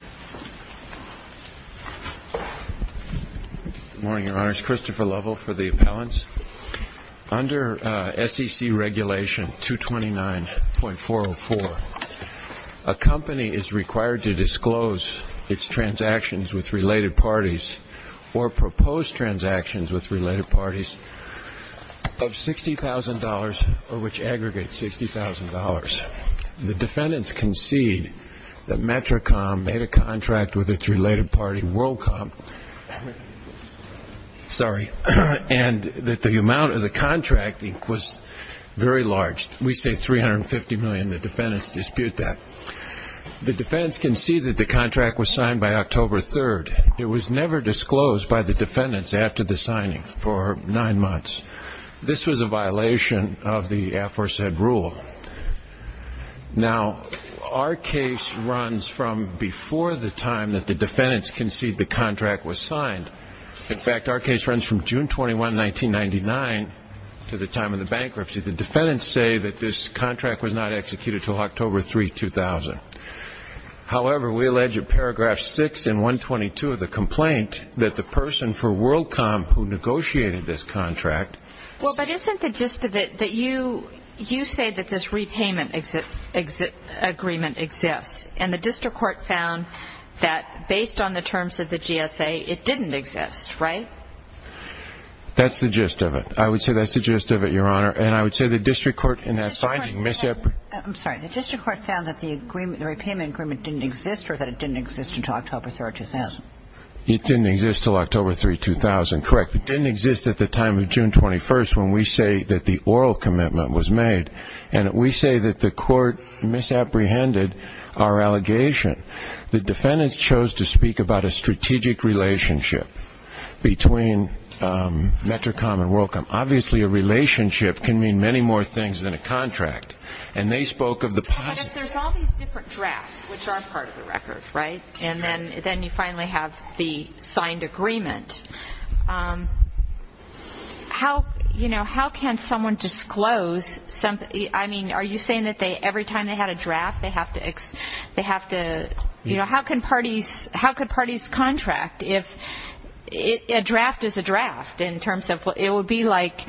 Good morning, Your Honors. Christopher Lovell for the appellants. Under SEC Regulation 229.404, a company is required to disclose its transactions with related parties or propose transactions with related parties of $60,000 or which aggregate $60,000. The defendants concede that Metricom made a contract with its related party, Worldcom, and that the amount of the contract was very large. We say $350 million. The defendants dispute that. The defendants concede that the contract was signed by October 3rd. It was never disclosed by the defendants after the signing for nine months. This was a violation of the aforesaid rule. Now, our case runs from before the time that the defendants concede the contract was signed. In fact, our case runs from June 21, 1999 to the time of the bankruptcy. The defendants say that this contract was not executed until October 3, 2000. However, we allege in paragraphs 6 and 122 of the complaint that the person for Worldcom who negotiated this contract. Well, but isn't the gist of it that you say that this repayment agreement exists, and the district court found that based on the terms of the GSA, it didn't exist, right? That's the gist of it. I would say that's the gist of it, Your Honor. And I would say the district court in that finding. I'm sorry. The district court found that the repayment agreement didn't exist or that it didn't exist until October 3, 2000. It didn't exist until October 3, 2000. Correct. It didn't exist at the time of June 21st when we say that the oral commitment was made, and we say that the court misapprehended our allegation. The defendants chose to speak about a strategic relationship between METRICOM and Worldcom. Obviously, a relationship can mean many more things than a contract, and they spoke of the positive. But if there's all these different drafts, which are part of the record, right, and then you finally have the signed agreement, how can someone disclose something? I mean, are you saying that every time they had a draft, they have to, you know, how could parties contract if a draft is a draft in terms of it would be like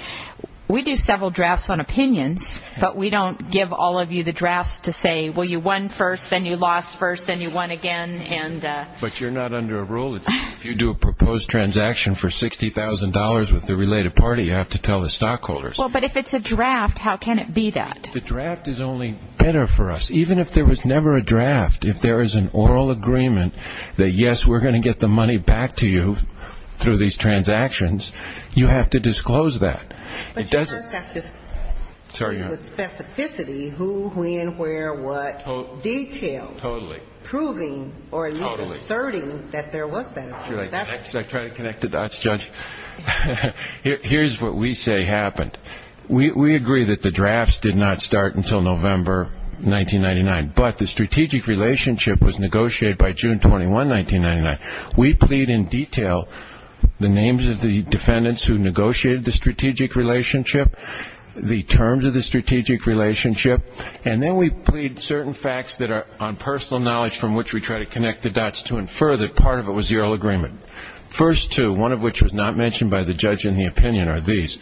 we do several drafts on opinions, but we don't give all of you the drafts to say, well, you won first, then you lost first, then you won again. But you're not under a rule. If you do a proposed transaction for $60,000 with a related party, you have to tell the stockholders. But if it's a draft, how can it be that? The draft is only better for us. Even if there was never a draft, if there is an oral agreement that, yes, we're going to get the money back to you through these transactions, you have to disclose that. Here's what we say happened. We agree that the drafts did not start until November 1999, but the strategic relationship was negotiated by June 21, 1999. We plead in detail the names of the defendants who negotiated the strategic relationship, the terms of the strategic relationship, and then we plead certain facts that are on personal knowledge from which we try to connect the dots to infer that part of it was zero agreement. The first two, one of which was not mentioned by the judge in the opinion, are these.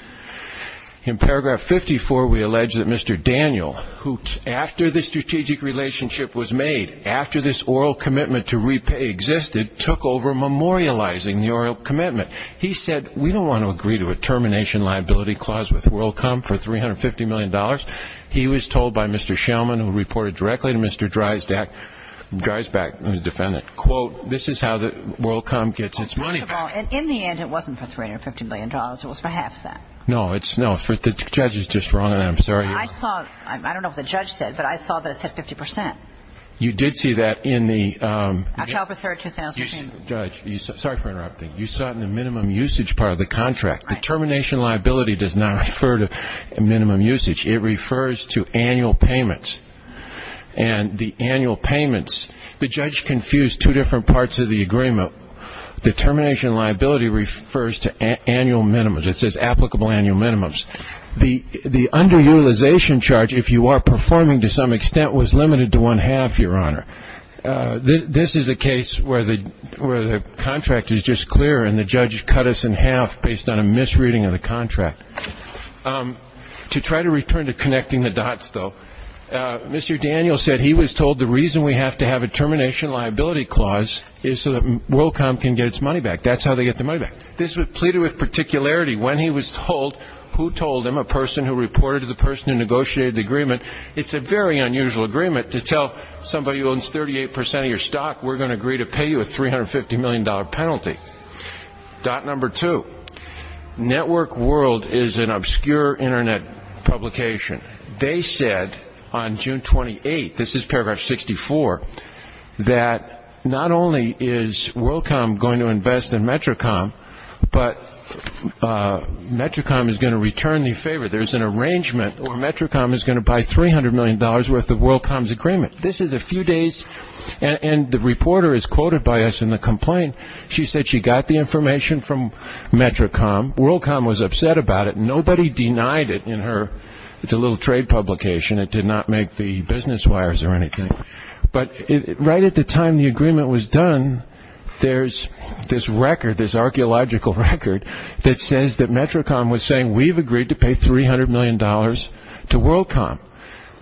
In paragraph 54, we allege that Mr. Daniel, who after the strategic relationship was made, after this oral commitment to repay existed, took over memorializing the oral commitment. He said, we don't want to agree to a termination liability clause with WorldCom for $350 million. He was told by Mr. Shellman, who reported directly to Mr. Dreisbach, the defendant, quote, this is how WorldCom gets its money back. First of all, in the end, it wasn't for $350 million. It was for half that. No, the judge is just wrong on that. I'm sorry. I don't know what the judge said, but I saw that it said 50%. You did see that in the... October 3, 2015. Sorry for interrupting. You saw it in the minimum usage part of the contract. The termination liability does not refer to minimum usage. It refers to annual payments. And the annual payments, the judge confused two different parts of the agreement. The termination liability refers to annual minimums. It says applicable annual minimums. The underutilization charge, if you are performing to some extent, was limited to one-half, Your Honor. This is a case where the contract is just clear, and the judge cut us in half based on a misreading of the contract. To try to return to connecting the dots, though, Mr. Daniels said he was told the reason we have to have a termination liability clause is so that WorldCom can get its money back. That's how they get their money back. This was pleaded with particularity. When he was told who told him, a person who reported to the person who negotiated the agreement, it's a very unusual agreement to tell somebody who owns 38 percent of your stock, we're going to agree to pay you a $350 million penalty. Dot number two, Network World is an obscure Internet publication. They said on June 28th, this is paragraph 64, that not only is WorldCom going to invest in Metricom, but Metricom is going to return the favor. There's an arrangement where Metricom is going to buy $300 million worth of WorldCom's agreement. This is a few days, and the reporter is quoted by us in the complaint. She said she got the information from Metricom. WorldCom was upset about it. Nobody denied it in her little trade publication. It did not make the business wires or anything. But right at the time the agreement was done, there's this record, this archaeological record, that says that Metricom was saying we've agreed to pay $300 million to WorldCom.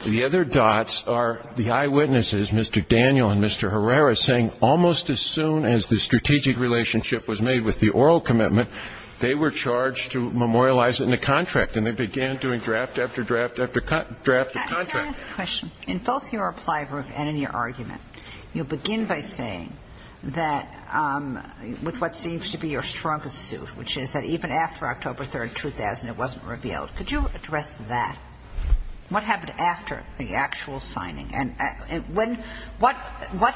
The other dots are the eyewitnesses, Mr. Daniel and Mr. Herrera, saying almost as soon as the strategic relationship was made with the oral commitment, they were charged to memorialize it in a contract, and they began doing draft after draft after draft of contract. Can I ask a question? In both your reply and in your argument, you begin by saying that with what seems to be your strongest suit, which is that even after October 3rd, 2000, it wasn't revealed. Could you address that? What happened after the actual signing? And what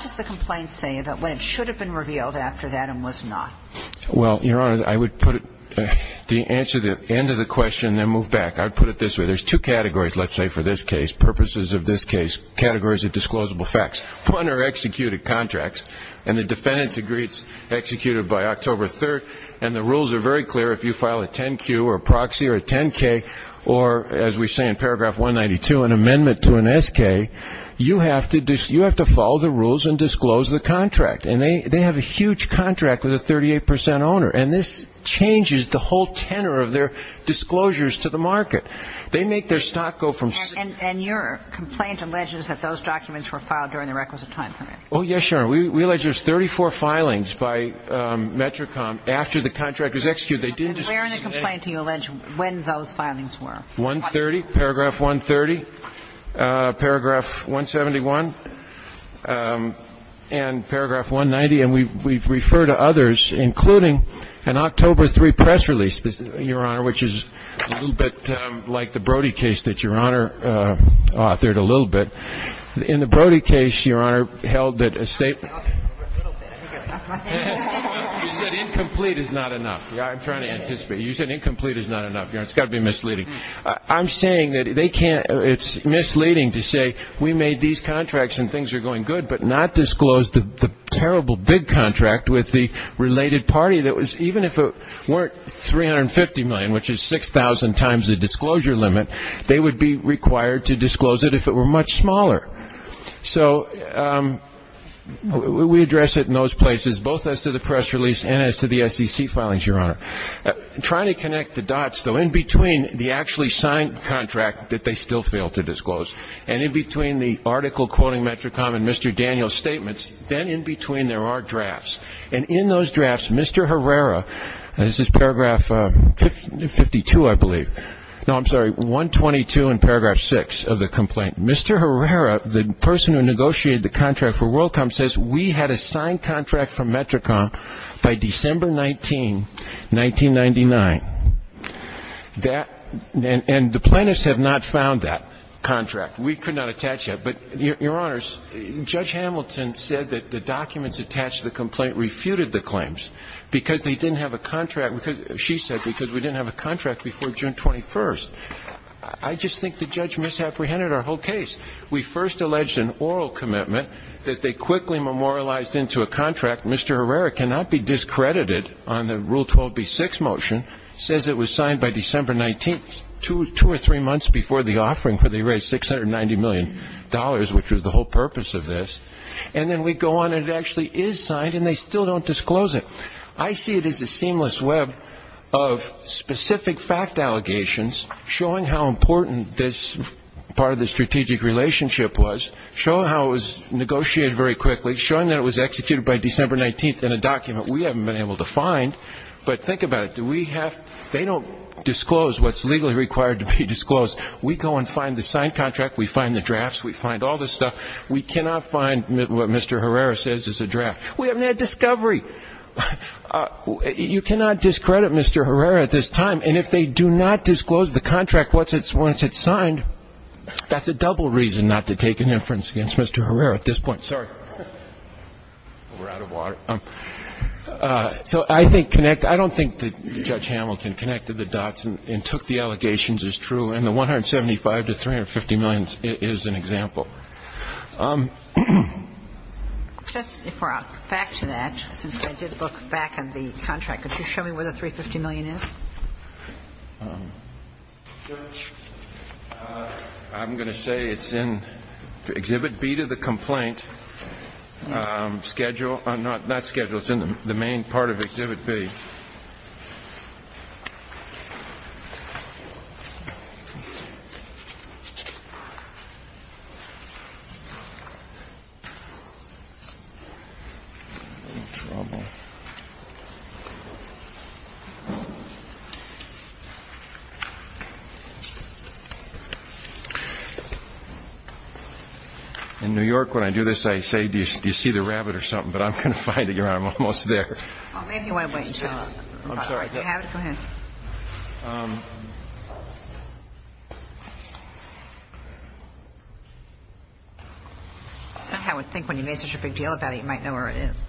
does the complaint say about when it should have been revealed after that and was not? Well, Your Honor, I would put it to answer the end of the question and then move back. I would put it this way. There's two categories, let's say, for this case, purposes of this case, categories of disclosable facts. One are executed contracts, and the defendants agree it's executed by October 3rd, and the rules are very clear if you file a 10-Q or a proxy or a 10-K or, as we say in paragraph 192, an amendment to an S-K, you have to follow the rules and disclose the contract. And they have a huge contract with a 38 percent owner, and this changes the whole tenor of their disclosures to the market. They make their stock go from ---- And your complaint alleges that those documents were filed during the requisite time period. Oh, yes, Your Honor. We allege there's 34 filings by METRICOM after the contract was executed. Where in the complaint do you allege when those filings were? 130, paragraph 130, paragraph 171, and paragraph 190. And we refer to others, including an October 3 press release, Your Honor, which is a little bit like the Brody case that Your Honor authored a little bit. In the Brody case, Your Honor, held that a state ---- A little bit. You said incomplete is not enough. I'm trying to anticipate. You said incomplete is not enough, Your Honor. It's got to be misleading. I'm saying that they can't ---- It's misleading to say we made these contracts and things are going good, but not disclose the terrible big contract with the related party that was ---- Even if it weren't 350 million, which is 6,000 times the disclosure limit, they would be required to disclose it if it were much smaller. So we address it in those places, both as to the press release and as to the SEC filings, Your Honor. Trying to connect the dots, though, in between the actually signed contract that they still fail to disclose and in between the article quoting METRICOM and Mr. Daniel's statements, then in between there are drafts. And in those drafts, Mr. Herrera ---- This is paragraph 52, I believe. No, I'm sorry, 122 in paragraph 6 of the complaint. Mr. Herrera, the person who negotiated the contract for WorldCom, says we had a signed contract for METRICOM by December 19, 1999. And the plaintiffs have not found that contract. We could not attach that. But, Your Honors, Judge Hamilton said that the documents attached to the complaint refuted the claims because they didn't have a contract. She said because we didn't have a contract before June 21. I just think the judge misapprehended our whole case. We first alleged an oral commitment that they quickly memorialized into a contract. Mr. Herrera cannot be discredited on the Rule 12b-6 motion, says it was signed by December 19, two or three months before the offering, where they raised $690 million, which was the whole purpose of this. And then we go on and it actually is signed and they still don't disclose it. I see it as a seamless web of specific fact allegations showing how important this part of the strategic relationship was, showing how it was negotiated very quickly, showing that it was executed by December 19 in a document we haven't been able to find. But think about it. They don't disclose what's legally required to be disclosed. We go and find the signed contract. We find the drafts. We find all this stuff. We cannot find what Mr. Herrera says is a draft. We haven't had discovery. You cannot discredit Mr. Herrera at this time. And if they do not disclose the contract once it's signed, that's a double reason not to take an inference against Mr. Herrera at this point. Sorry. We're out of water. So I don't think that Judge Hamilton connected the dots and took the allegations as true, and the $175 to $350 million is an example. If we're back to that, since I did look back at the contract, could you show me where the $350 million is? I'm going to say it's in Exhibit B to the complaint schedule. Not schedule. It's in the main part of Exhibit B. In New York when I do this I say, do you see the rabbit or something, but I'm going to find it, Your Honor. I'm almost there. Maybe you want to wait and tell him. I'm sorry. Do you have it? Go ahead. I would think when you make such a big deal about it you might know where it is.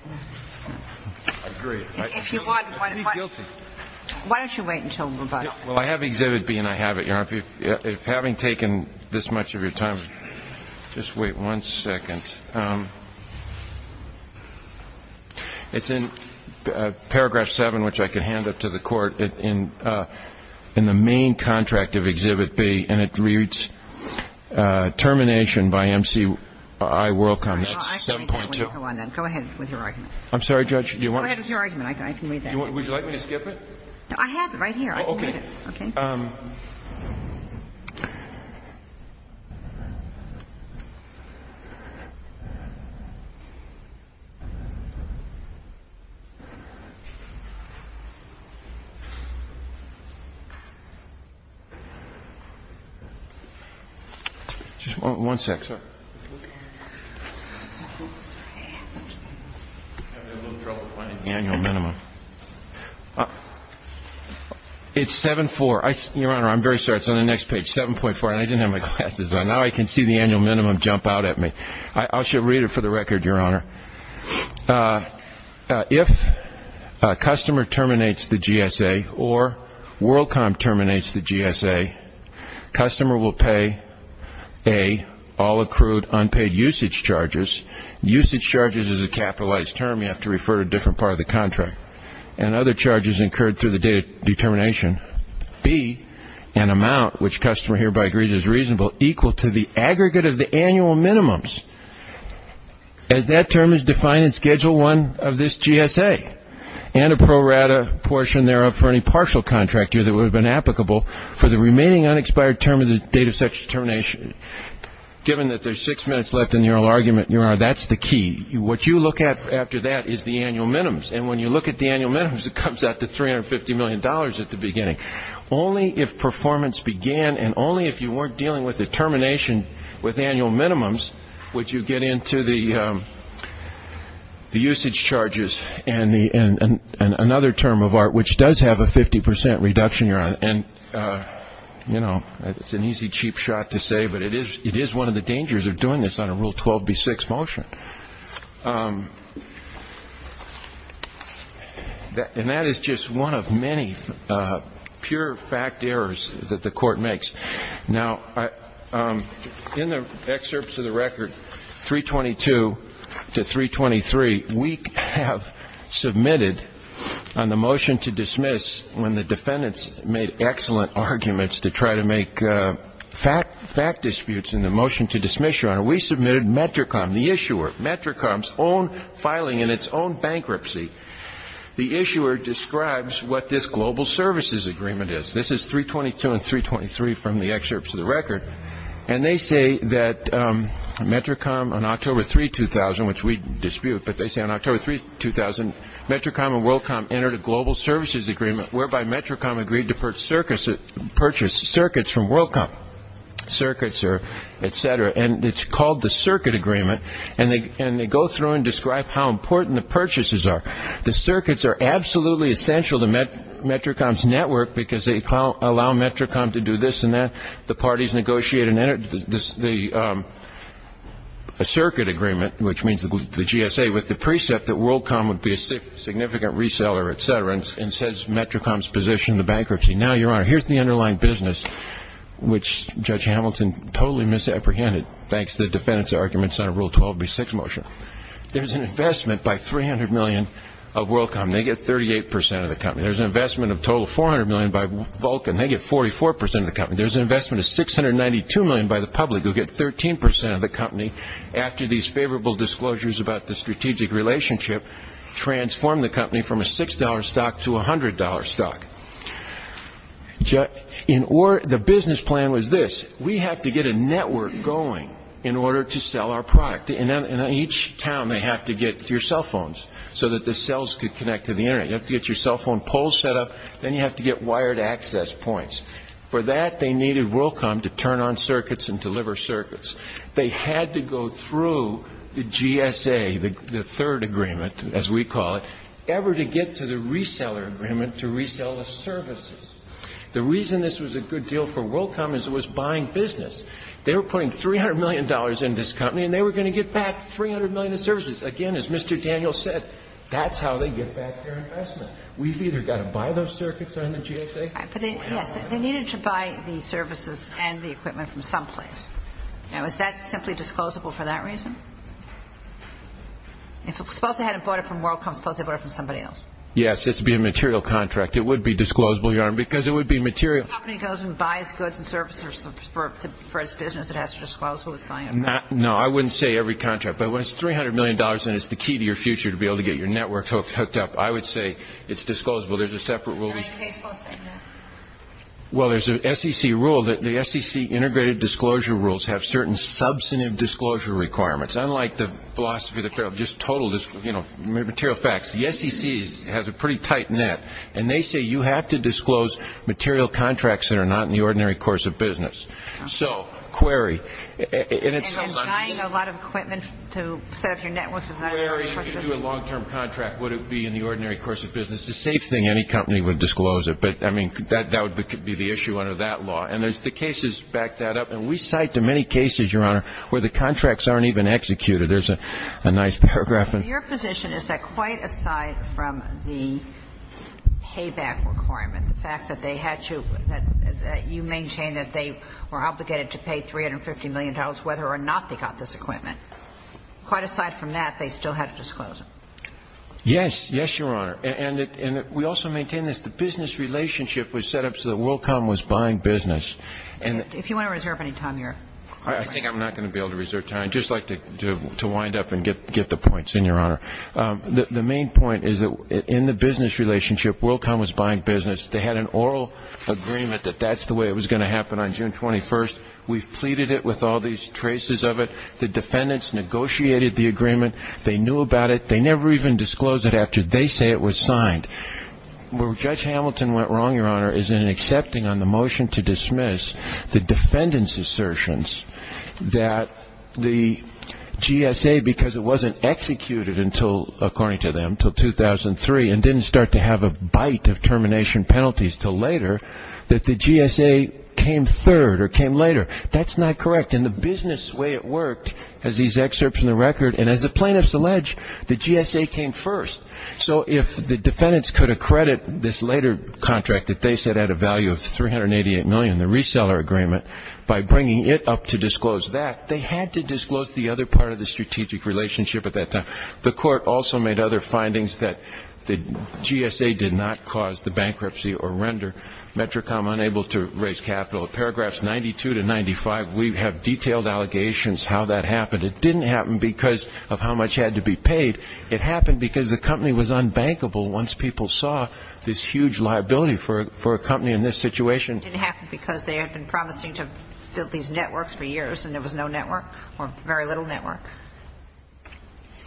I agree. If you want, why don't you wait and tell him about it. Well, I have Exhibit B and I have it, Your Honor. If having taken this much of your time, just wait one second. It's in paragraph 7, which I can hand up to the Court, in the main contract of Exhibit B, and it reads, Termination by MCI Worldcom. That's 7.2. Go ahead with your argument. I'm sorry, Judge. Go ahead with your argument. I can read that. Would you like me to skip it? I have it right here. Okay. Just one second. Sorry. You're having a little trouble finding it? It's 7.2. 7.4. Your Honor, I'm very sorry. It's on the next page. 7.4. And I didn't have my glasses on. Now I can see the annual minimum jump out at me. I should read it for the record, Your Honor. If a customer terminates the GSA or WorldCom terminates the GSA, customer will pay A, all accrued unpaid usage charges. Usage charges is a capitalized term. You have to refer to a different part of the contract. and other charges incurred through the date of determination. B, an amount, which customer hereby agrees is reasonable, equal to the aggregate of the annual minimums as that term is defined in Schedule 1 of this GSA and a pro rata portion thereof for any partial contract year that would have been applicable for the remaining unexpired term of the date of such determination. Given that there's six minutes left in the oral argument, Your Honor, that's the key. What you look at after that is the annual minimums. And when you look at the annual minimums, it comes out to $350 million at the beginning. Only if performance began and only if you weren't dealing with the termination with annual minimums would you get into the usage charges and another term of art, which does have a 50% reduction, Your Honor. And you know, it's an easy, cheap shot to say, but it is one of the dangers of doing this on a Rule 12b6 motion. And that is just one of many pure fact errors that the Court makes. Now, in the excerpts of the record, 322 to 323, we have submitted on the motion to dismiss when the defendants made excellent arguments to try to make fact disputes in the motion to dismiss, Your Honor. We submitted METRICOM, the issuer, METRICOM's own filing in its own bankruptcy. The issuer describes what this global services agreement is. This is 322 and 323 from the excerpts of the record. And they say that METRICOM, on October 3, 2000, which we dispute, but they say on October 3, 2000, METRICOM and WorldCom entered a global services agreement whereby METRICOM agreed to purchase circuits from WorldCom, circuits or et cetera. And it's called the circuit agreement. And they go through and describe how important the purchases are. The circuits are absolutely essential to METRICOM's network because they allow METRICOM to do this and that. The parties negotiate and enter the circuit agreement, which means the GSA, with the precept that WorldCom would be a significant reseller, et cetera, and says METRICOM's position in bankruptcy. Now, Your Honor, here's the underlying business, which Judge Hamilton totally misapprehended thanks to the defendant's arguments on a Rule 12b6 motion. There's an investment by 300 million of WorldCom. They get 38% of the company. There's an investment of a total of 400 million by Vulcan. They get 44% of the company. There's an investment of 692 million by the public who get 13% of the company after these favorable disclosures about the strategic relationship transformed the company from a $6 stock to a $100 stock. The business plan was this. We have to get a network going in order to sell our product. And in each town, they have to get your cell phones so that the cells could connect to the Internet. You have to get your cell phone poles set up, then you have to get wired access points. For that, they needed WorldCom to turn on circuits and deliver circuits. They had to go through the GSA, the third agreement, as we call it, ever to get to the reseller agreement to resell the services. The reason this was a good deal for WorldCom is it was buying business. They were putting $300 million into this company and they were going to get back 300 million in services. Again, as Mr. Daniels said, that's how they get back their investment. Yes, they needed to buy the services and the equipment from someplace. Now, is that simply disclosable for that reason? If it's supposed to have been bought from WorldCom, it's supposed to have been bought from somebody else. Yes, it would be a material contract. It would be disclosable, Your Honor, because it would be material. If a company goes and buys goods and services for its business, it has to disclose who it's buying it from. No, I wouldn't say every contract. But when it's $300 million and it's the key to your future to be able to get your network hooked up, I would say it's disclosable. There's a separate rule. Well, there's an SEC rule that the SEC integrated disclosure rules have certain substantive disclosure requirements. Unlike the philosophy of just total material facts, the SEC has a pretty tight net. And they say you have to disclose material contracts that are not in the ordinary course of business. So, query. And buying a lot of equipment to set up your network is not an ordinary course of business. Querying to do a long-term contract, would it be in the ordinary course of business? It's a safe thing any company would disclose it. But, I mean, that would be the issue under that law. And there's the cases back that up. And we cite the many cases, Your Honor, where the contracts aren't even executed. There's a nice paragraph. Your position is that quite aside from the payback requirements, the fact that they had to you maintain that they were obligated to pay $350 million whether or not they got this equipment. Quite aside from that, they still had to disclose it. Yes. Yes, Your Honor. And we also maintain this. The business relationship was set up so that WorldCom was buying business. If you want to reserve any time here. I think I'm not going to be able to reserve time. I'd just like to wind up and get the points, Your Honor. The main point is that in the business relationship, WorldCom was buying business. They had an oral agreement that that's the way it was going to happen on June 21st. We've pleaded it with all these traces of it. The defendants negotiated the agreement. They knew about it. They never even disclosed it after they say it was signed. Where Judge Hamilton went wrong, Your Honor, is in accepting on the motion to dismiss the defendants' assertions that the GSA, because it wasn't executed according to them until 2003 and didn't start to have a bite of termination penalties until later, that the GSA came third or came later. That's not correct. And the business way it worked, as these excerpts in the record, and as the plaintiffs allege, the GSA came first. So if the defendants could accredit this later contract that they said had a value of $388 million, the reseller agreement, by bringing it up to disclose that, they had to disclose the other part of the strategic relationship at that time. The court also made other findings that the GSA did not cause the bankruptcy or render Metricom unable to raise capital. In paragraphs 92 to 95, we have detailed allegations how that happened. It didn't happen because of how much had to be paid. It happened because the company was unbankable once people saw this huge liability for a company in this situation. It didn't happen because they had been promising to build these networks for years and there was no network or very little network?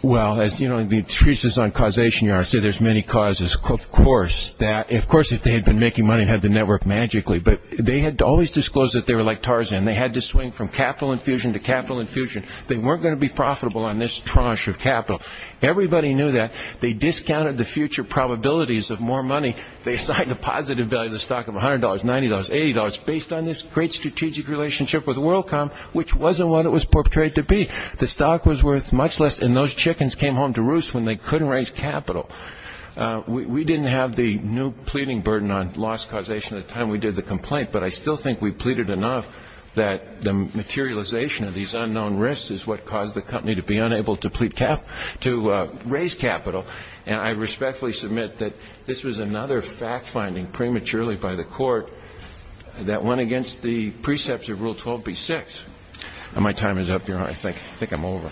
Well, as you know, the thesis on causation, Your Honor, I say there's many causes. Of course, if they had been making money and had the network magically. But they had always disclosed that they were like Tarzan. They had to swing from capital infusion to capital infusion. They weren't going to be profitable on this tranche of capital. Everybody knew that. They discounted the future probabilities of more money. They assigned a positive value to the stock of $100, $90, $80, based on this great strategic relationship with WorldCom, which wasn't what it was portrayed to be. The stock was worth much less and those chickens came home to roost when they couldn't raise capital. We didn't have the new pleading burden on loss causation at the time we did the complaint, but I still think we pleaded enough that the materialization of these unknown risks is what caused the company to be unable to raise capital. And I respectfully submit that this was another fact-finding prematurely by the court that went against the precepts of Rule 12b-6. My time is up, Your Honor. I think I'm over.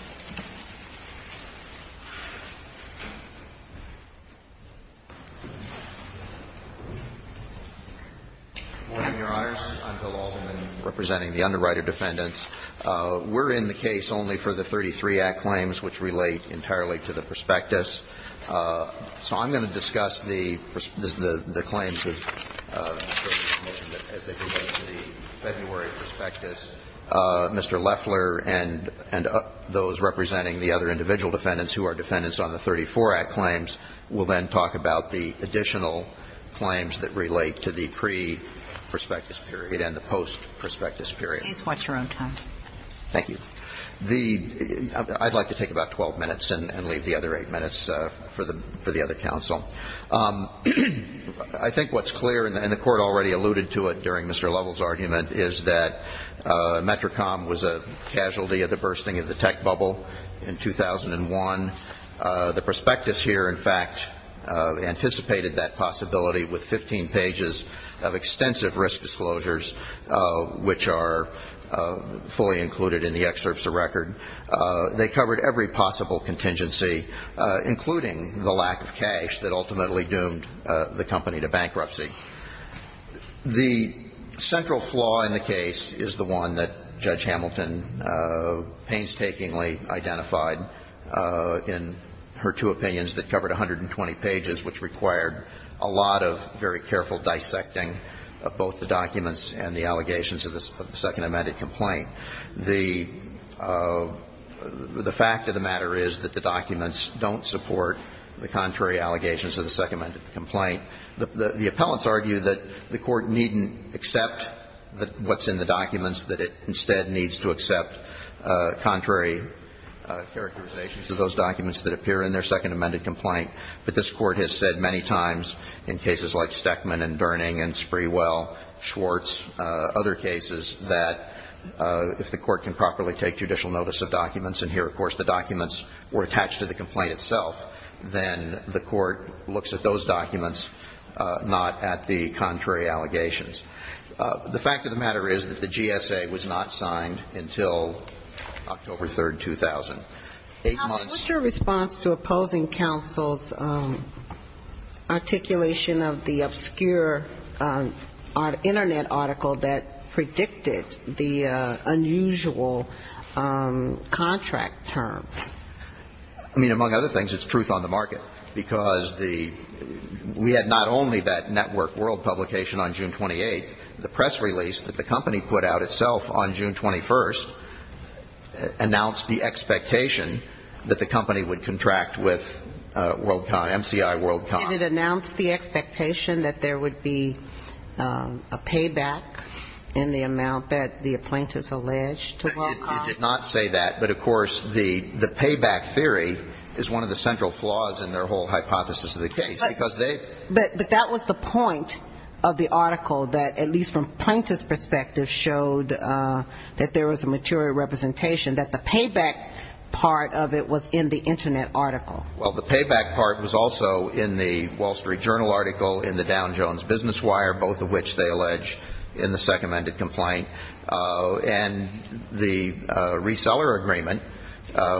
Good morning, Your Honors. I'm Bill Alderman, representing the underwriter defendants. We're in the case only for the 33 Act claims, which relate entirely to the prospectus. So I'm going to discuss the claims as they relate to the February prospectus. Mr. Leffler and those representing the other individual defendants who are defendants on the 34 Act claims will then talk about the additional claims that relate to the pre-prospectus period and the post-prospectus period. Please watch your own time. Thank you. I'd like to take about 12 minutes and leave the other 8 minutes for the other counsel. I think what's clear, and the Court already alluded to it during Mr. Lovell's that METRICOM was a casualty of the bursting of the tech bubble in 2001. The prospectus here, in fact, anticipated that possibility with 15 pages of extensive risk disclosures, which are fully included in the excerpts of record. They covered every possible contingency, including the lack of cash that ultimately doomed the company to bankruptcy. The central flaw in the case is the one that Judge Hamilton painstakingly identified in her two opinions that covered 120 pages, which required a lot of very careful dissecting of both the documents and the allegations of the second amended complaint. The fact of the matter is that the documents don't support the contrary allegations of the second amended complaint. The appellants argue that the Court needn't accept what's in the documents, that it instead needs to accept contrary characterizations of those documents that appear in their second amended complaint. But this Court has said many times in cases like Steckman and Durning and Sprewell, Schwartz, other cases, that if the Court can properly take judicial notice of documents and here, of course, the documents were attached to the complaint itself, then the Court is not at the contrary allegations. The fact of the matter is that the GSA was not signed until October 3, 2008. Counsel, what's your response to opposing counsel's articulation of the obscure Internet article that predicted the unusual contract terms? I mean, among other things, it's truth on the market, because the we had not only that network world publication on June 28th. The press release that the company put out itself on June 21st announced the expectation that the company would contract with WorldCom, MCI WorldCom. Did it announce the expectation that there would be a payback in the amount that the applaint is alleged to WorldCom? It did not say that. But, of course, the payback theory is one of the central flaws in their whole hypothesis of the case. But that was the point of the article that, at least from Plaintiff's perspective, showed that there was a material representation, that the payback part of it was in the Internet article. Well, the payback part was also in the Wall Street Journal article, in the Down Jones Business Wire, both of which they allege in the second amended complaint. And the reseller agreement,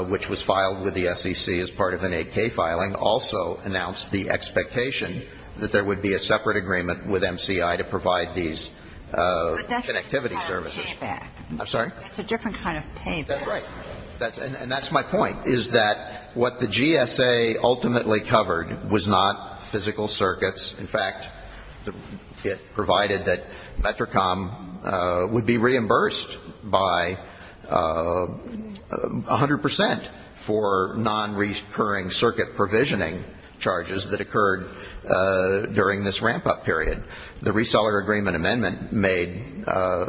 which was filed with the SEC as part of an AK filing, also announced the expectation that there would be a separate agreement with MCI to provide these connectivity services. But that's a different kind of payback. I'm sorry? That's a different kind of payback. That's right. And that's my point, is that what the GSA ultimately covered was not physical circuits. In fact, it provided that Metricom would be reimbursed by 100 percent for non-reoccurring circuit provisioning charges that occurred during this ramp-up period. The reseller agreement amendment made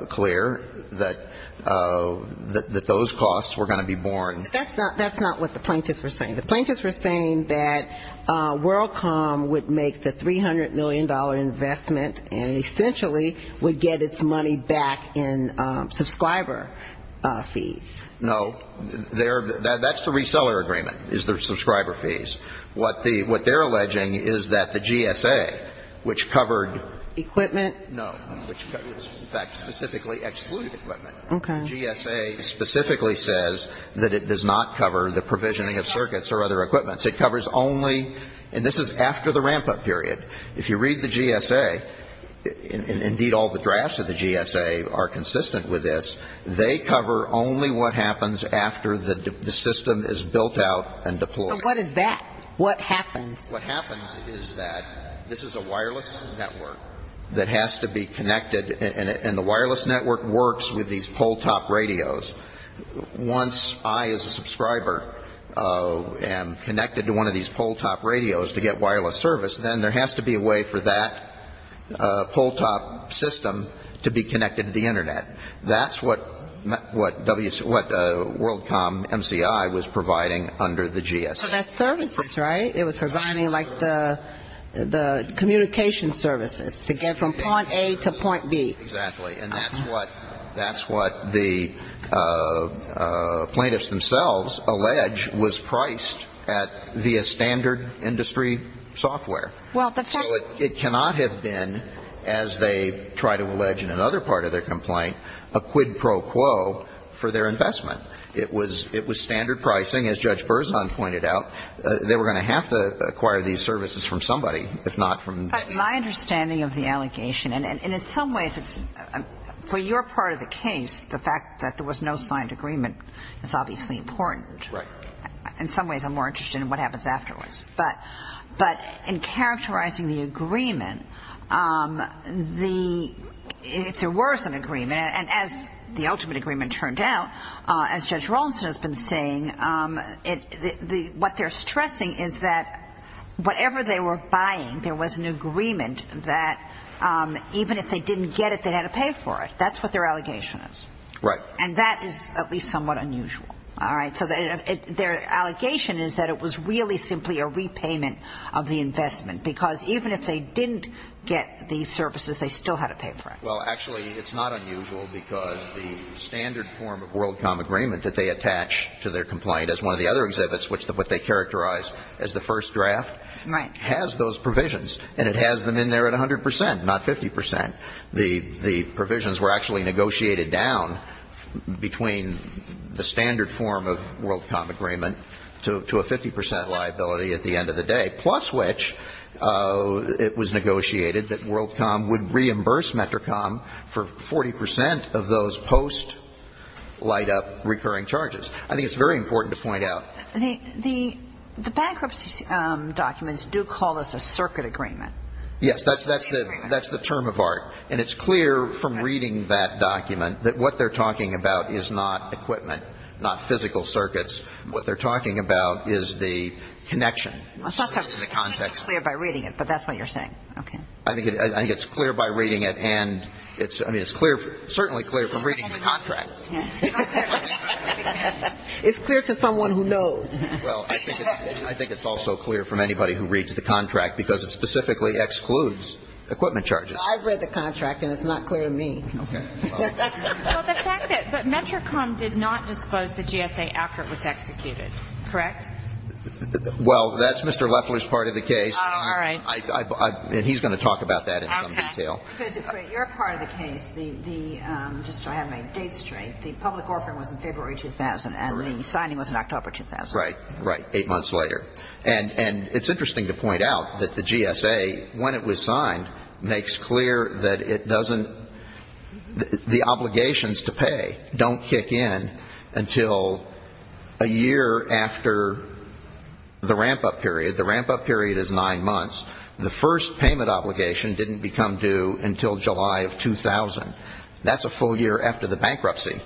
clear that those costs were going to be borne. That's not what the Plaintiffs were saying. The Plaintiffs were saying that WorldCom would make the $300 million investment and essentially would get its money back in subscriber fees. No. That's the reseller agreement, is their subscriber fees. What they're alleging is that the GSA, which covered no, which in fact specifically excluded equipment, GSA specifically says that it does not cover the provisioning of physical circuits or other equipment. It covers only, and this is after the ramp-up period. If you read the GSA, and indeed all the drafts of the GSA are consistent with this, they cover only what happens after the system is built out and deployed. But what is that? What happens? What happens is that this is a wireless network that has to be connected, and the wireless network works with these pull-top radios. Once I as a subscriber am connected to one of these pull-top radios to get wireless service, then there has to be a way for that pull-top system to be connected to the Internet. That's what WorldCom MCI was providing under the GSA. So that's services, right? It was providing like the communication services to get from point A to point B. Exactly. And that's what the plaintiffs themselves allege was priced at via standard industry software. So it cannot have been, as they try to allege in another part of their complaint, a quid pro quo for their investment. It was standard pricing, as Judge Berzon pointed out. They were going to have to acquire these services from somebody, if not from them. My understanding of the allegation, and in some ways, for your part of the case, the fact that there was no signed agreement is obviously important. Right. In some ways, I'm more interested in what happens afterwards. But in characterizing the agreement, if there was an agreement, and as the ultimate agreement turned out, as Judge Rawlinson has been saying, what they're stressing is that whatever they were buying, there was an agreement that even if they didn't get it, they had to pay for it. That's what their allegation is. Right. And that is at least somewhat unusual. All right? So their allegation is that it was really simply a repayment of the investment, because even if they didn't get the services, they still had to pay for it. Well, actually, it's not unusual, because the standard form of WorldCom agreement that they attach to their complaint as one of the other exhibits, what they characterize as the first draft, has those provisions. And it has them in there at 100 percent, not 50 percent. The provisions were actually negotiated down between the standard form of WorldCom agreement to a 50 percent liability at the end of the day, plus which it was negotiated that WorldCom would reimburse METRICOM for 40 percent of those post-light-up recurring charges. I think it's very important to point out. The bankruptcy documents do call this a circuit agreement. Yes, that's the term of art. And it's clear from reading that document that what they're talking about is not equipment, not physical circuits. What they're talking about is the connection. It's not so clear by reading it, but that's what you're saying. Okay. I think it's clear by reading it, and it's clear, certainly clear from reading the contract. It's clear to someone who knows. Well, I think it's also clear from anybody who reads the contract, because it specifically excludes equipment charges. I've read the contract, and it's not clear to me. Okay. Well, the fact that METRICOM did not disclose the GSA after it was executed, correct? Well, that's Mr. Loeffler's part of the case. All right. And he's going to talk about that in some detail. Okay. Professor Craig, your part of the case, just so I have my dates straight, the public orphan was in February 2000, and the signing was in October 2000. Right. Right. Eight months later. And it's interesting to point out that the GSA, when it was signed, makes clear that it doesn't the obligations to pay don't kick in until a year after the ramp-up period. The ramp-up period is nine months. The first payment obligation didn't become due until July of 2000. That's a full year after the bankruptcy.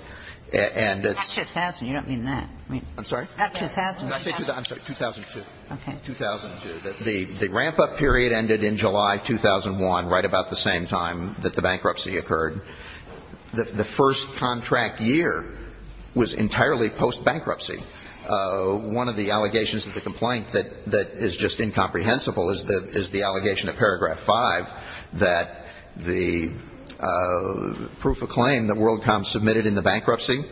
And it's — Not 2000. You don't mean that. I'm sorry? Not 2000. I'm sorry, 2002. Okay. 2002. The ramp-up period ended in July 2001, right about the same time that the bankruptcy occurred. The first contract year was entirely post-bankruptcy. One of the allegations of the complaint that is just incomprehensible is the allegation of Paragraph 5, that the proof of claim that WorldCom submitted in the bankruptcy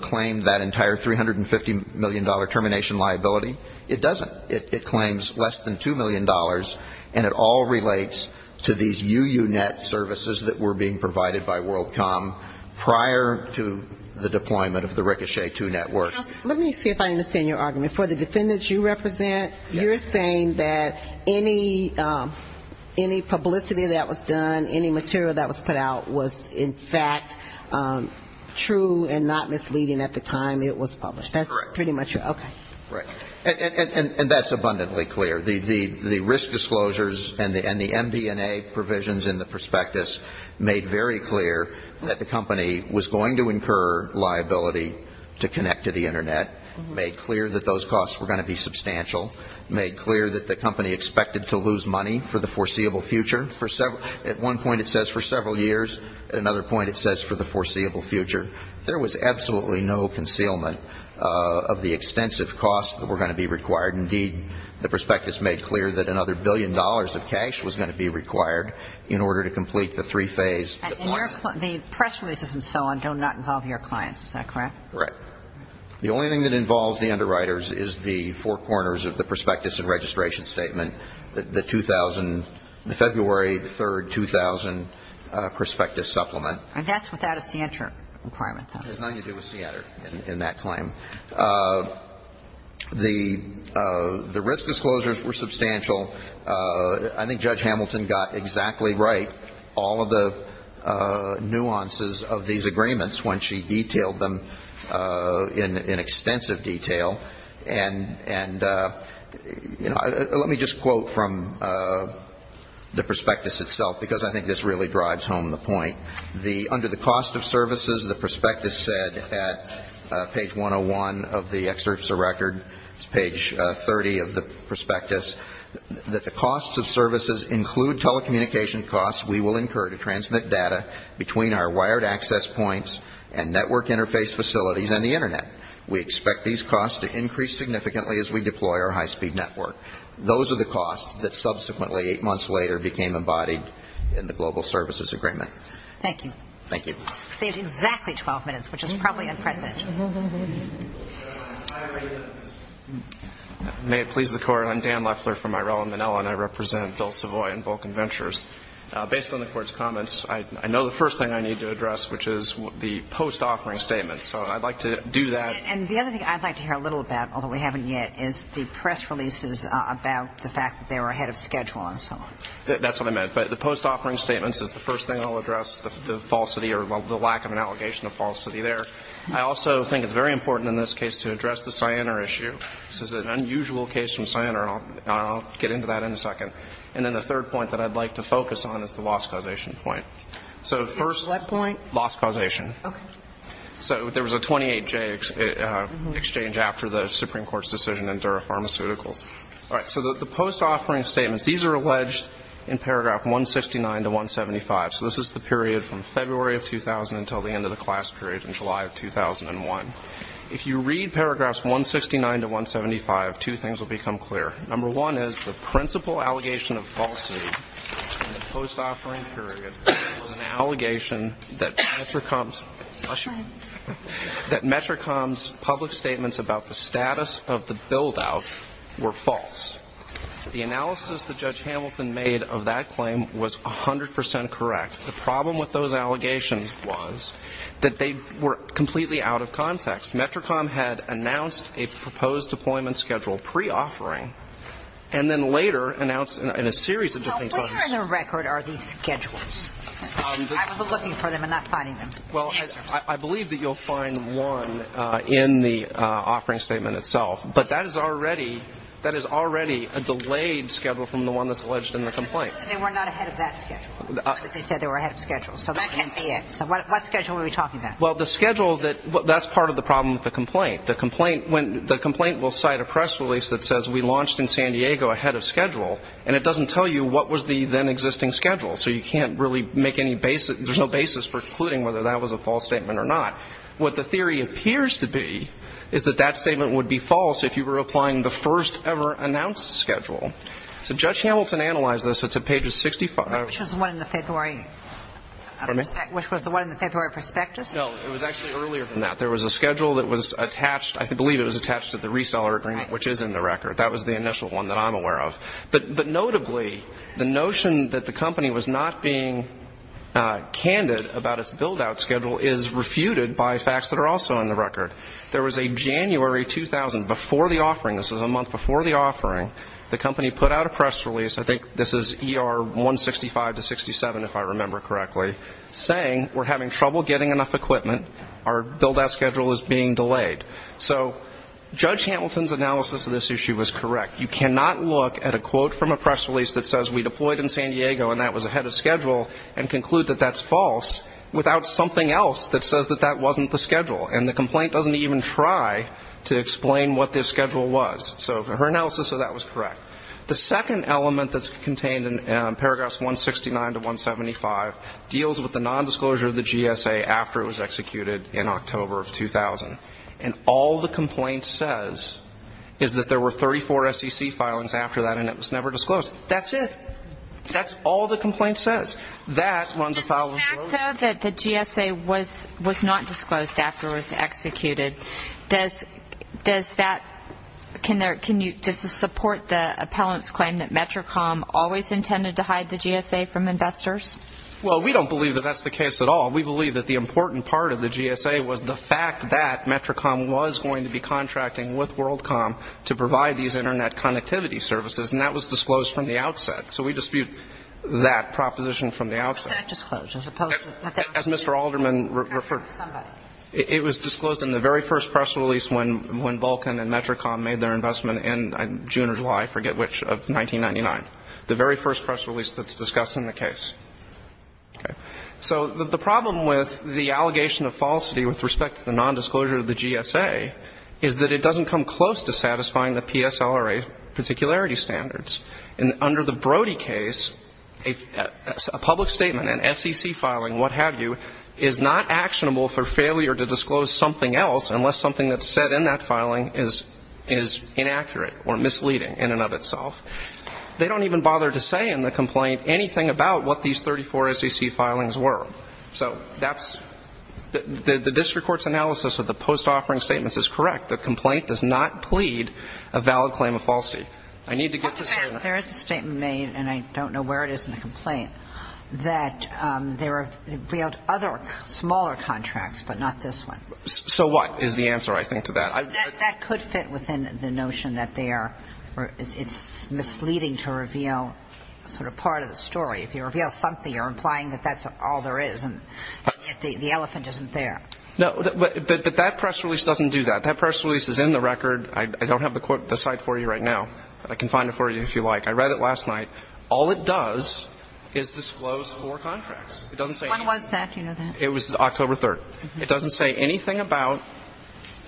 claimed that entire $350 million termination liability. It doesn't. It claims less than $2 million, and it all relates to these UUNet services that were being provided by WorldCom prior to the deployment of the Ricochet 2 network. Let me see if I understand your argument. For the defendants you represent, you're saying that any publicity that was done, any material that was put out was, in fact, true and not misleading at the time it was published. Correct. That's pretty much it. Okay. Right. And that's abundantly clear. The risk disclosures and the MD&A provisions in the prospectus made very clear that the costs were going to be substantial, made clear that the company expected to lose money for the foreseeable future. At one point it says for several years. At another point it says for the foreseeable future. There was absolutely no concealment of the extensive costs that were going to be required. Indeed, the prospectus made clear that another billion dollars of cash was going to be required in order to complete the three phase deployment. And the press releases and so on do not involve your clients. Is that correct? Correct. The only thing that involves the underwriters is the four corners of the prospectus and registration statement, the 2000, the February 3rd, 2000 prospectus supplement. And that's without a CNTR requirement, though. It has nothing to do with CNTR in that claim. The risk disclosures were substantial. I think Judge Hamilton got exactly right all of the nuances of these agreements when she detailed them in extensive detail. And let me just quote from the prospectus itself, because I think this really drives home the point. Under the cost of services, the prospectus said at page 101 of the excerpts of record, page 30 of the prospectus, that the costs of services include telecommunication costs we will incur to transmit data between our wired access points and network interface facilities and the Internet. We expect these costs to increase significantly as we deploy our high-speed network. Those are the costs that subsequently, eight months later, became embodied in the global services agreement. Thank you. Thank you. We saved exactly 12 minutes, which is probably unprecedented. May it please the Court, I'm Dan Leffler from Ireland, and I represent Bill Savoy and Vulcan Ventures. Based on the Court's comments, I know the first thing I need to address, which is the post-offering statements. So I'd like to do that. And the other thing I'd like to hear a little about, although we haven't yet, is the press releases about the fact that they were ahead of schedule and so on. That's what I meant. But the post-offering statements is the first thing I'll address, the falsity or the lack of an allegation of falsity there. I also think it's very important in this case to address the Cyanar issue. This is an unusual case from Cyanar. I'll get into that in a second. And then the third point that I'd like to focus on is the loss causation point. So first. What point? Loss causation. Okay. So there was a 28-J exchange after the Supreme Court's decision in Dura Pharmaceuticals. All right. So the post-offering statements, these are alleged in paragraph 169 to 175. So this is the period from February of 2000 until the end of the class period in July of 2001. If you read paragraphs 169 to 175, two things will become clear. Number one is the principal allegation of falsity in the post-offering period was an allegation that METRICOM's public statements about the status of the build-out were false. The analysis that Judge Hamilton made of that claim was 100% correct. The problem with those allegations was that they were completely out of context. METRICOM had announced a proposed deployment schedule pre-offering and then later announced in a series of different times. Now, where in the record are these schedules? I was looking for them and not finding them. Well, I believe that you'll find one in the offering statement itself, but that is already a delayed schedule from the one that's alleged in the complaint. They said they were not ahead of that schedule. They said they were ahead of schedule, so that can't be it. So what schedule are we talking about? Well, the schedule that – that's part of the problem with the complaint. The complaint will cite a press release that says we launched in San Diego ahead of schedule, and it doesn't tell you what was the then-existing schedule. So you can't really make any – there's no basis for concluding whether that was a false statement or not. What the theory appears to be is that that statement would be false if you were applying the first-ever announced schedule. So Judge Hamilton analyzed this. It's at page 65. Which was the one in the February – Pardon me? Which was the one in the February prospectus? No, it was actually earlier than that. There was a schedule that was attached – I believe it was attached to the reseller agreement, which is in the record. That was the initial one that I'm aware of. But notably, the notion that the company was not being candid about its build-out schedule is refuted by facts that are also in the record. There was a January 2000, before the offering – this was a month before the offering – the company put out a press release – I think this is ER 165 to 67, if I remember correctly – saying we're having trouble getting enough equipment, our build-out schedule is being delayed. So Judge Hamilton's analysis of this issue was correct. You cannot look at a quote from a press release that says we deployed in San Diego and that was ahead of schedule and conclude that that's false without something else that says that that wasn't the schedule. And the complaint doesn't even try to explain what this schedule was. So her analysis of that was correct. The second element that's contained in paragraphs 169 to 175 deals with the nondisclosure of the GSA after it was executed in October of 2000. And all the complaint says is that there were 34 SEC filings after that and it was never disclosed. That's it. That's all the complaint says. That runs afoul of – So even though the GSA was not disclosed after it was executed, does that – can you support the appellant's claim that Metricom always intended to hide the GSA from investors? Well, we don't believe that that's the case at all. We believe that the important part of the GSA was the fact that Metricom was going to be contracting with WorldCom to provide these Internet connectivity services, and that was disclosed from the outset. So we dispute that proposition from the outset. Why was that disclosed as opposed to – As Mr. Alderman referred – Somebody. It was disclosed in the very first press release when Vulcan and Metricom made their investment in June or July, I forget which, of 1999. The very first press release that's discussed in the case. Okay. So the problem with the allegation of falsity with respect to the nondisclosure of the GSA is that it doesn't come close to satisfying the PSLRA particularity standards. And under the Brody case, a public statement, an SEC filing, what have you, is not actionable for failure to disclose something else unless something that's said in that filing is inaccurate or misleading in and of itself. They don't even bother to say in the complaint anything about what these 34 SEC filings were. So that's – the district court's analysis of the post-offering statements is correct. The complaint does not plead a valid claim of falsity. I need to get to certain – There is a statement made, and I don't know where it is in the complaint, that they revealed other smaller contracts but not this one. So what is the answer, I think, to that? That could fit within the notion that they are – it's misleading to reveal sort of part of the story. If you reveal something, you're implying that that's all there is and the elephant isn't there. No, but that press release doesn't do that. That press release is in the record. I don't have the site for you right now, but I can find it for you if you like. I read it last night. All it does is disclose four contracts. It doesn't say anything. When was that? Do you know that? It was October 3rd. It doesn't say anything about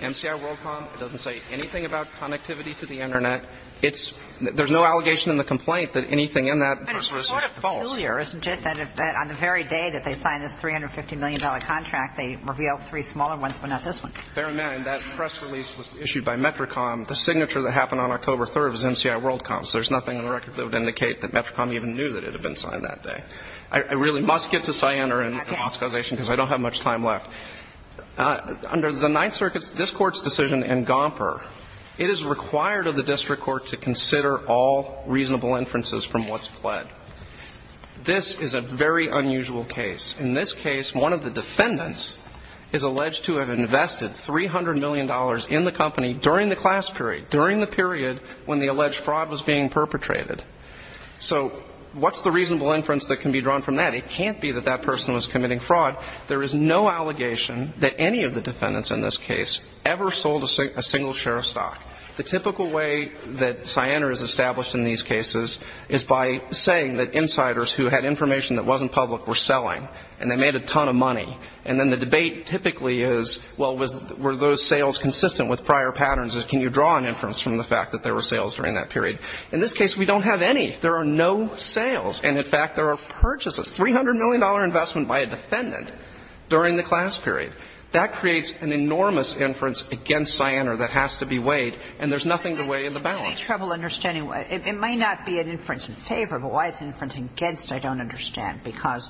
MCI WorldCom. It doesn't say anything about connectivity to the Internet. It's – there's no allegation in the complaint that anything in that press release is false. But it's sort of familiar, isn't it, that on the very day that they signed this $350 million contract, they revealed three smaller ones but not this one. Bear in mind, that press release was issued by METRICOM. The signature that happened on October 3rd was MCI WorldCom, so there's nothing in the record that would indicate that METRICOM even knew that it had been signed that day. I really must get to Siena and Moscowization because I don't have much time left. Under the Ninth Circuit's – this Court's decision in Gomper, it is required of the district court to consider all reasonable inferences from what's pled. This is a very unusual case. In this case, one of the defendants is alleged to have invested $300 million in the company during the class period, during the period when the alleged fraud was being perpetrated. So what's the reasonable inference that can be drawn from that? It can't be that that person was committing fraud. There is no allegation that any of the defendants in this case ever sold a single share of stock. The typical way that Siena is established in these cases is by saying that insiders who had information that wasn't public were selling and they made a ton of money. And then the debate typically is, well, was – were those sales consistent with prior patterns? Can you draw an inference from the fact that there were sales during that period? In this case, we don't have any. There are no sales. And, in fact, there are purchases, $300 million investment by a defendant during the class period. That creates an enormous inference against Siena that has to be weighed, and there's nothing to weigh in the balance. It might not be an inference in favor, but why it's an inference against, I don't understand. Because,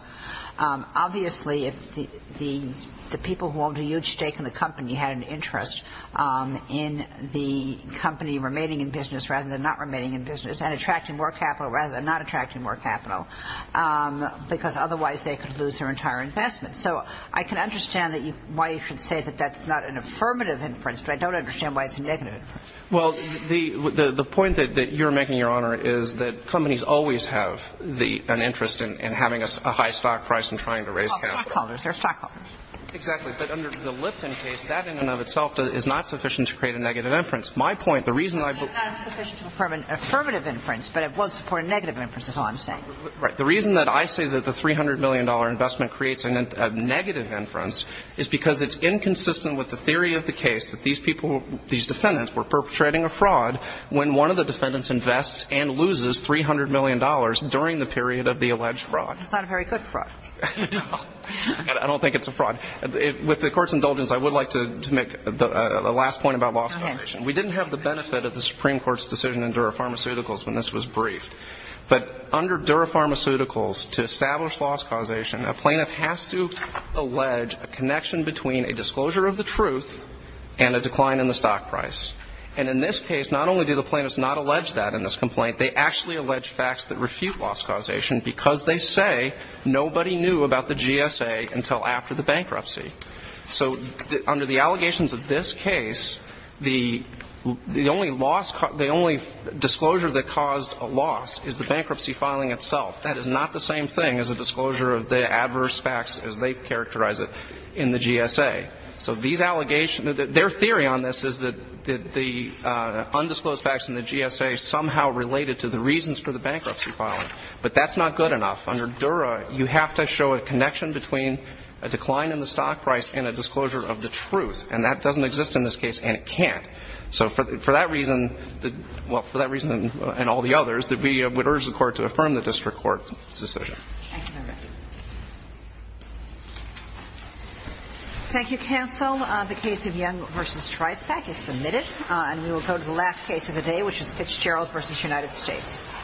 obviously, if the people who owned a huge stake in the company had an interest in the company remaining in business rather than not remaining in business and attracting more capital rather than not attracting more capital, because otherwise they could lose their entire investment. So I can understand why you could say that that's not an affirmative inference, but I don't understand why it's a negative inference. Well, the point that you're making, Your Honor, is that companies always have an interest in having a high stock price and trying to raise capital. Well, stockholders are stockholders. Exactly. But under the Lipton case, that in and of itself is not sufficient to create a negative inference. My point, the reason I – It's not sufficient to affirm an affirmative inference, but it won't support a negative inference is all I'm saying. Right. The reason that I say that the $300 million investment creates a negative inference is because it's inconsistent with the theory of the case that these people, these defendants, were perpetrating a fraud when one of the defendants invests and loses $300 million during the period of the alleged fraud. It's not a very good fraud. No. I don't think it's a fraud. With the Court's indulgence, I would like to make a last point about loss causation. Go ahead. We didn't have the benefit of the Supreme Court's decision in Dura Pharmaceuticals when this was briefed. But under Dura Pharmaceuticals, to establish loss causation, a plaintiff has to allege a connection between a disclosure of the truth and a decline in the stock price. And in this case, not only do the plaintiffs not allege that in this complaint, they actually allege facts that refute loss causation because they say nobody knew about the GSA until after the bankruptcy. So under the allegations of this case, the only disclosure that caused a loss is the bankruptcy filing itself. That is not the same thing as a disclosure of the adverse facts as they characterize it in the GSA. So their theory on this is that the undisclosed facts in the GSA somehow related to the reasons for the bankruptcy filing. But that's not good enough. Under Dura, you have to show a connection between a decline in the stock price and a disclosure of the truth. And that doesn't exist in this case, and it can't. So for that reason, well, for that reason and all the others, we would urge the Court to affirm the district court's decision. Thank you, Your Honor. Thank you, counsel. The case of Young v. Treisbach is submitted. And we will go to the last case of the day, which is Fitzgerald v. United States.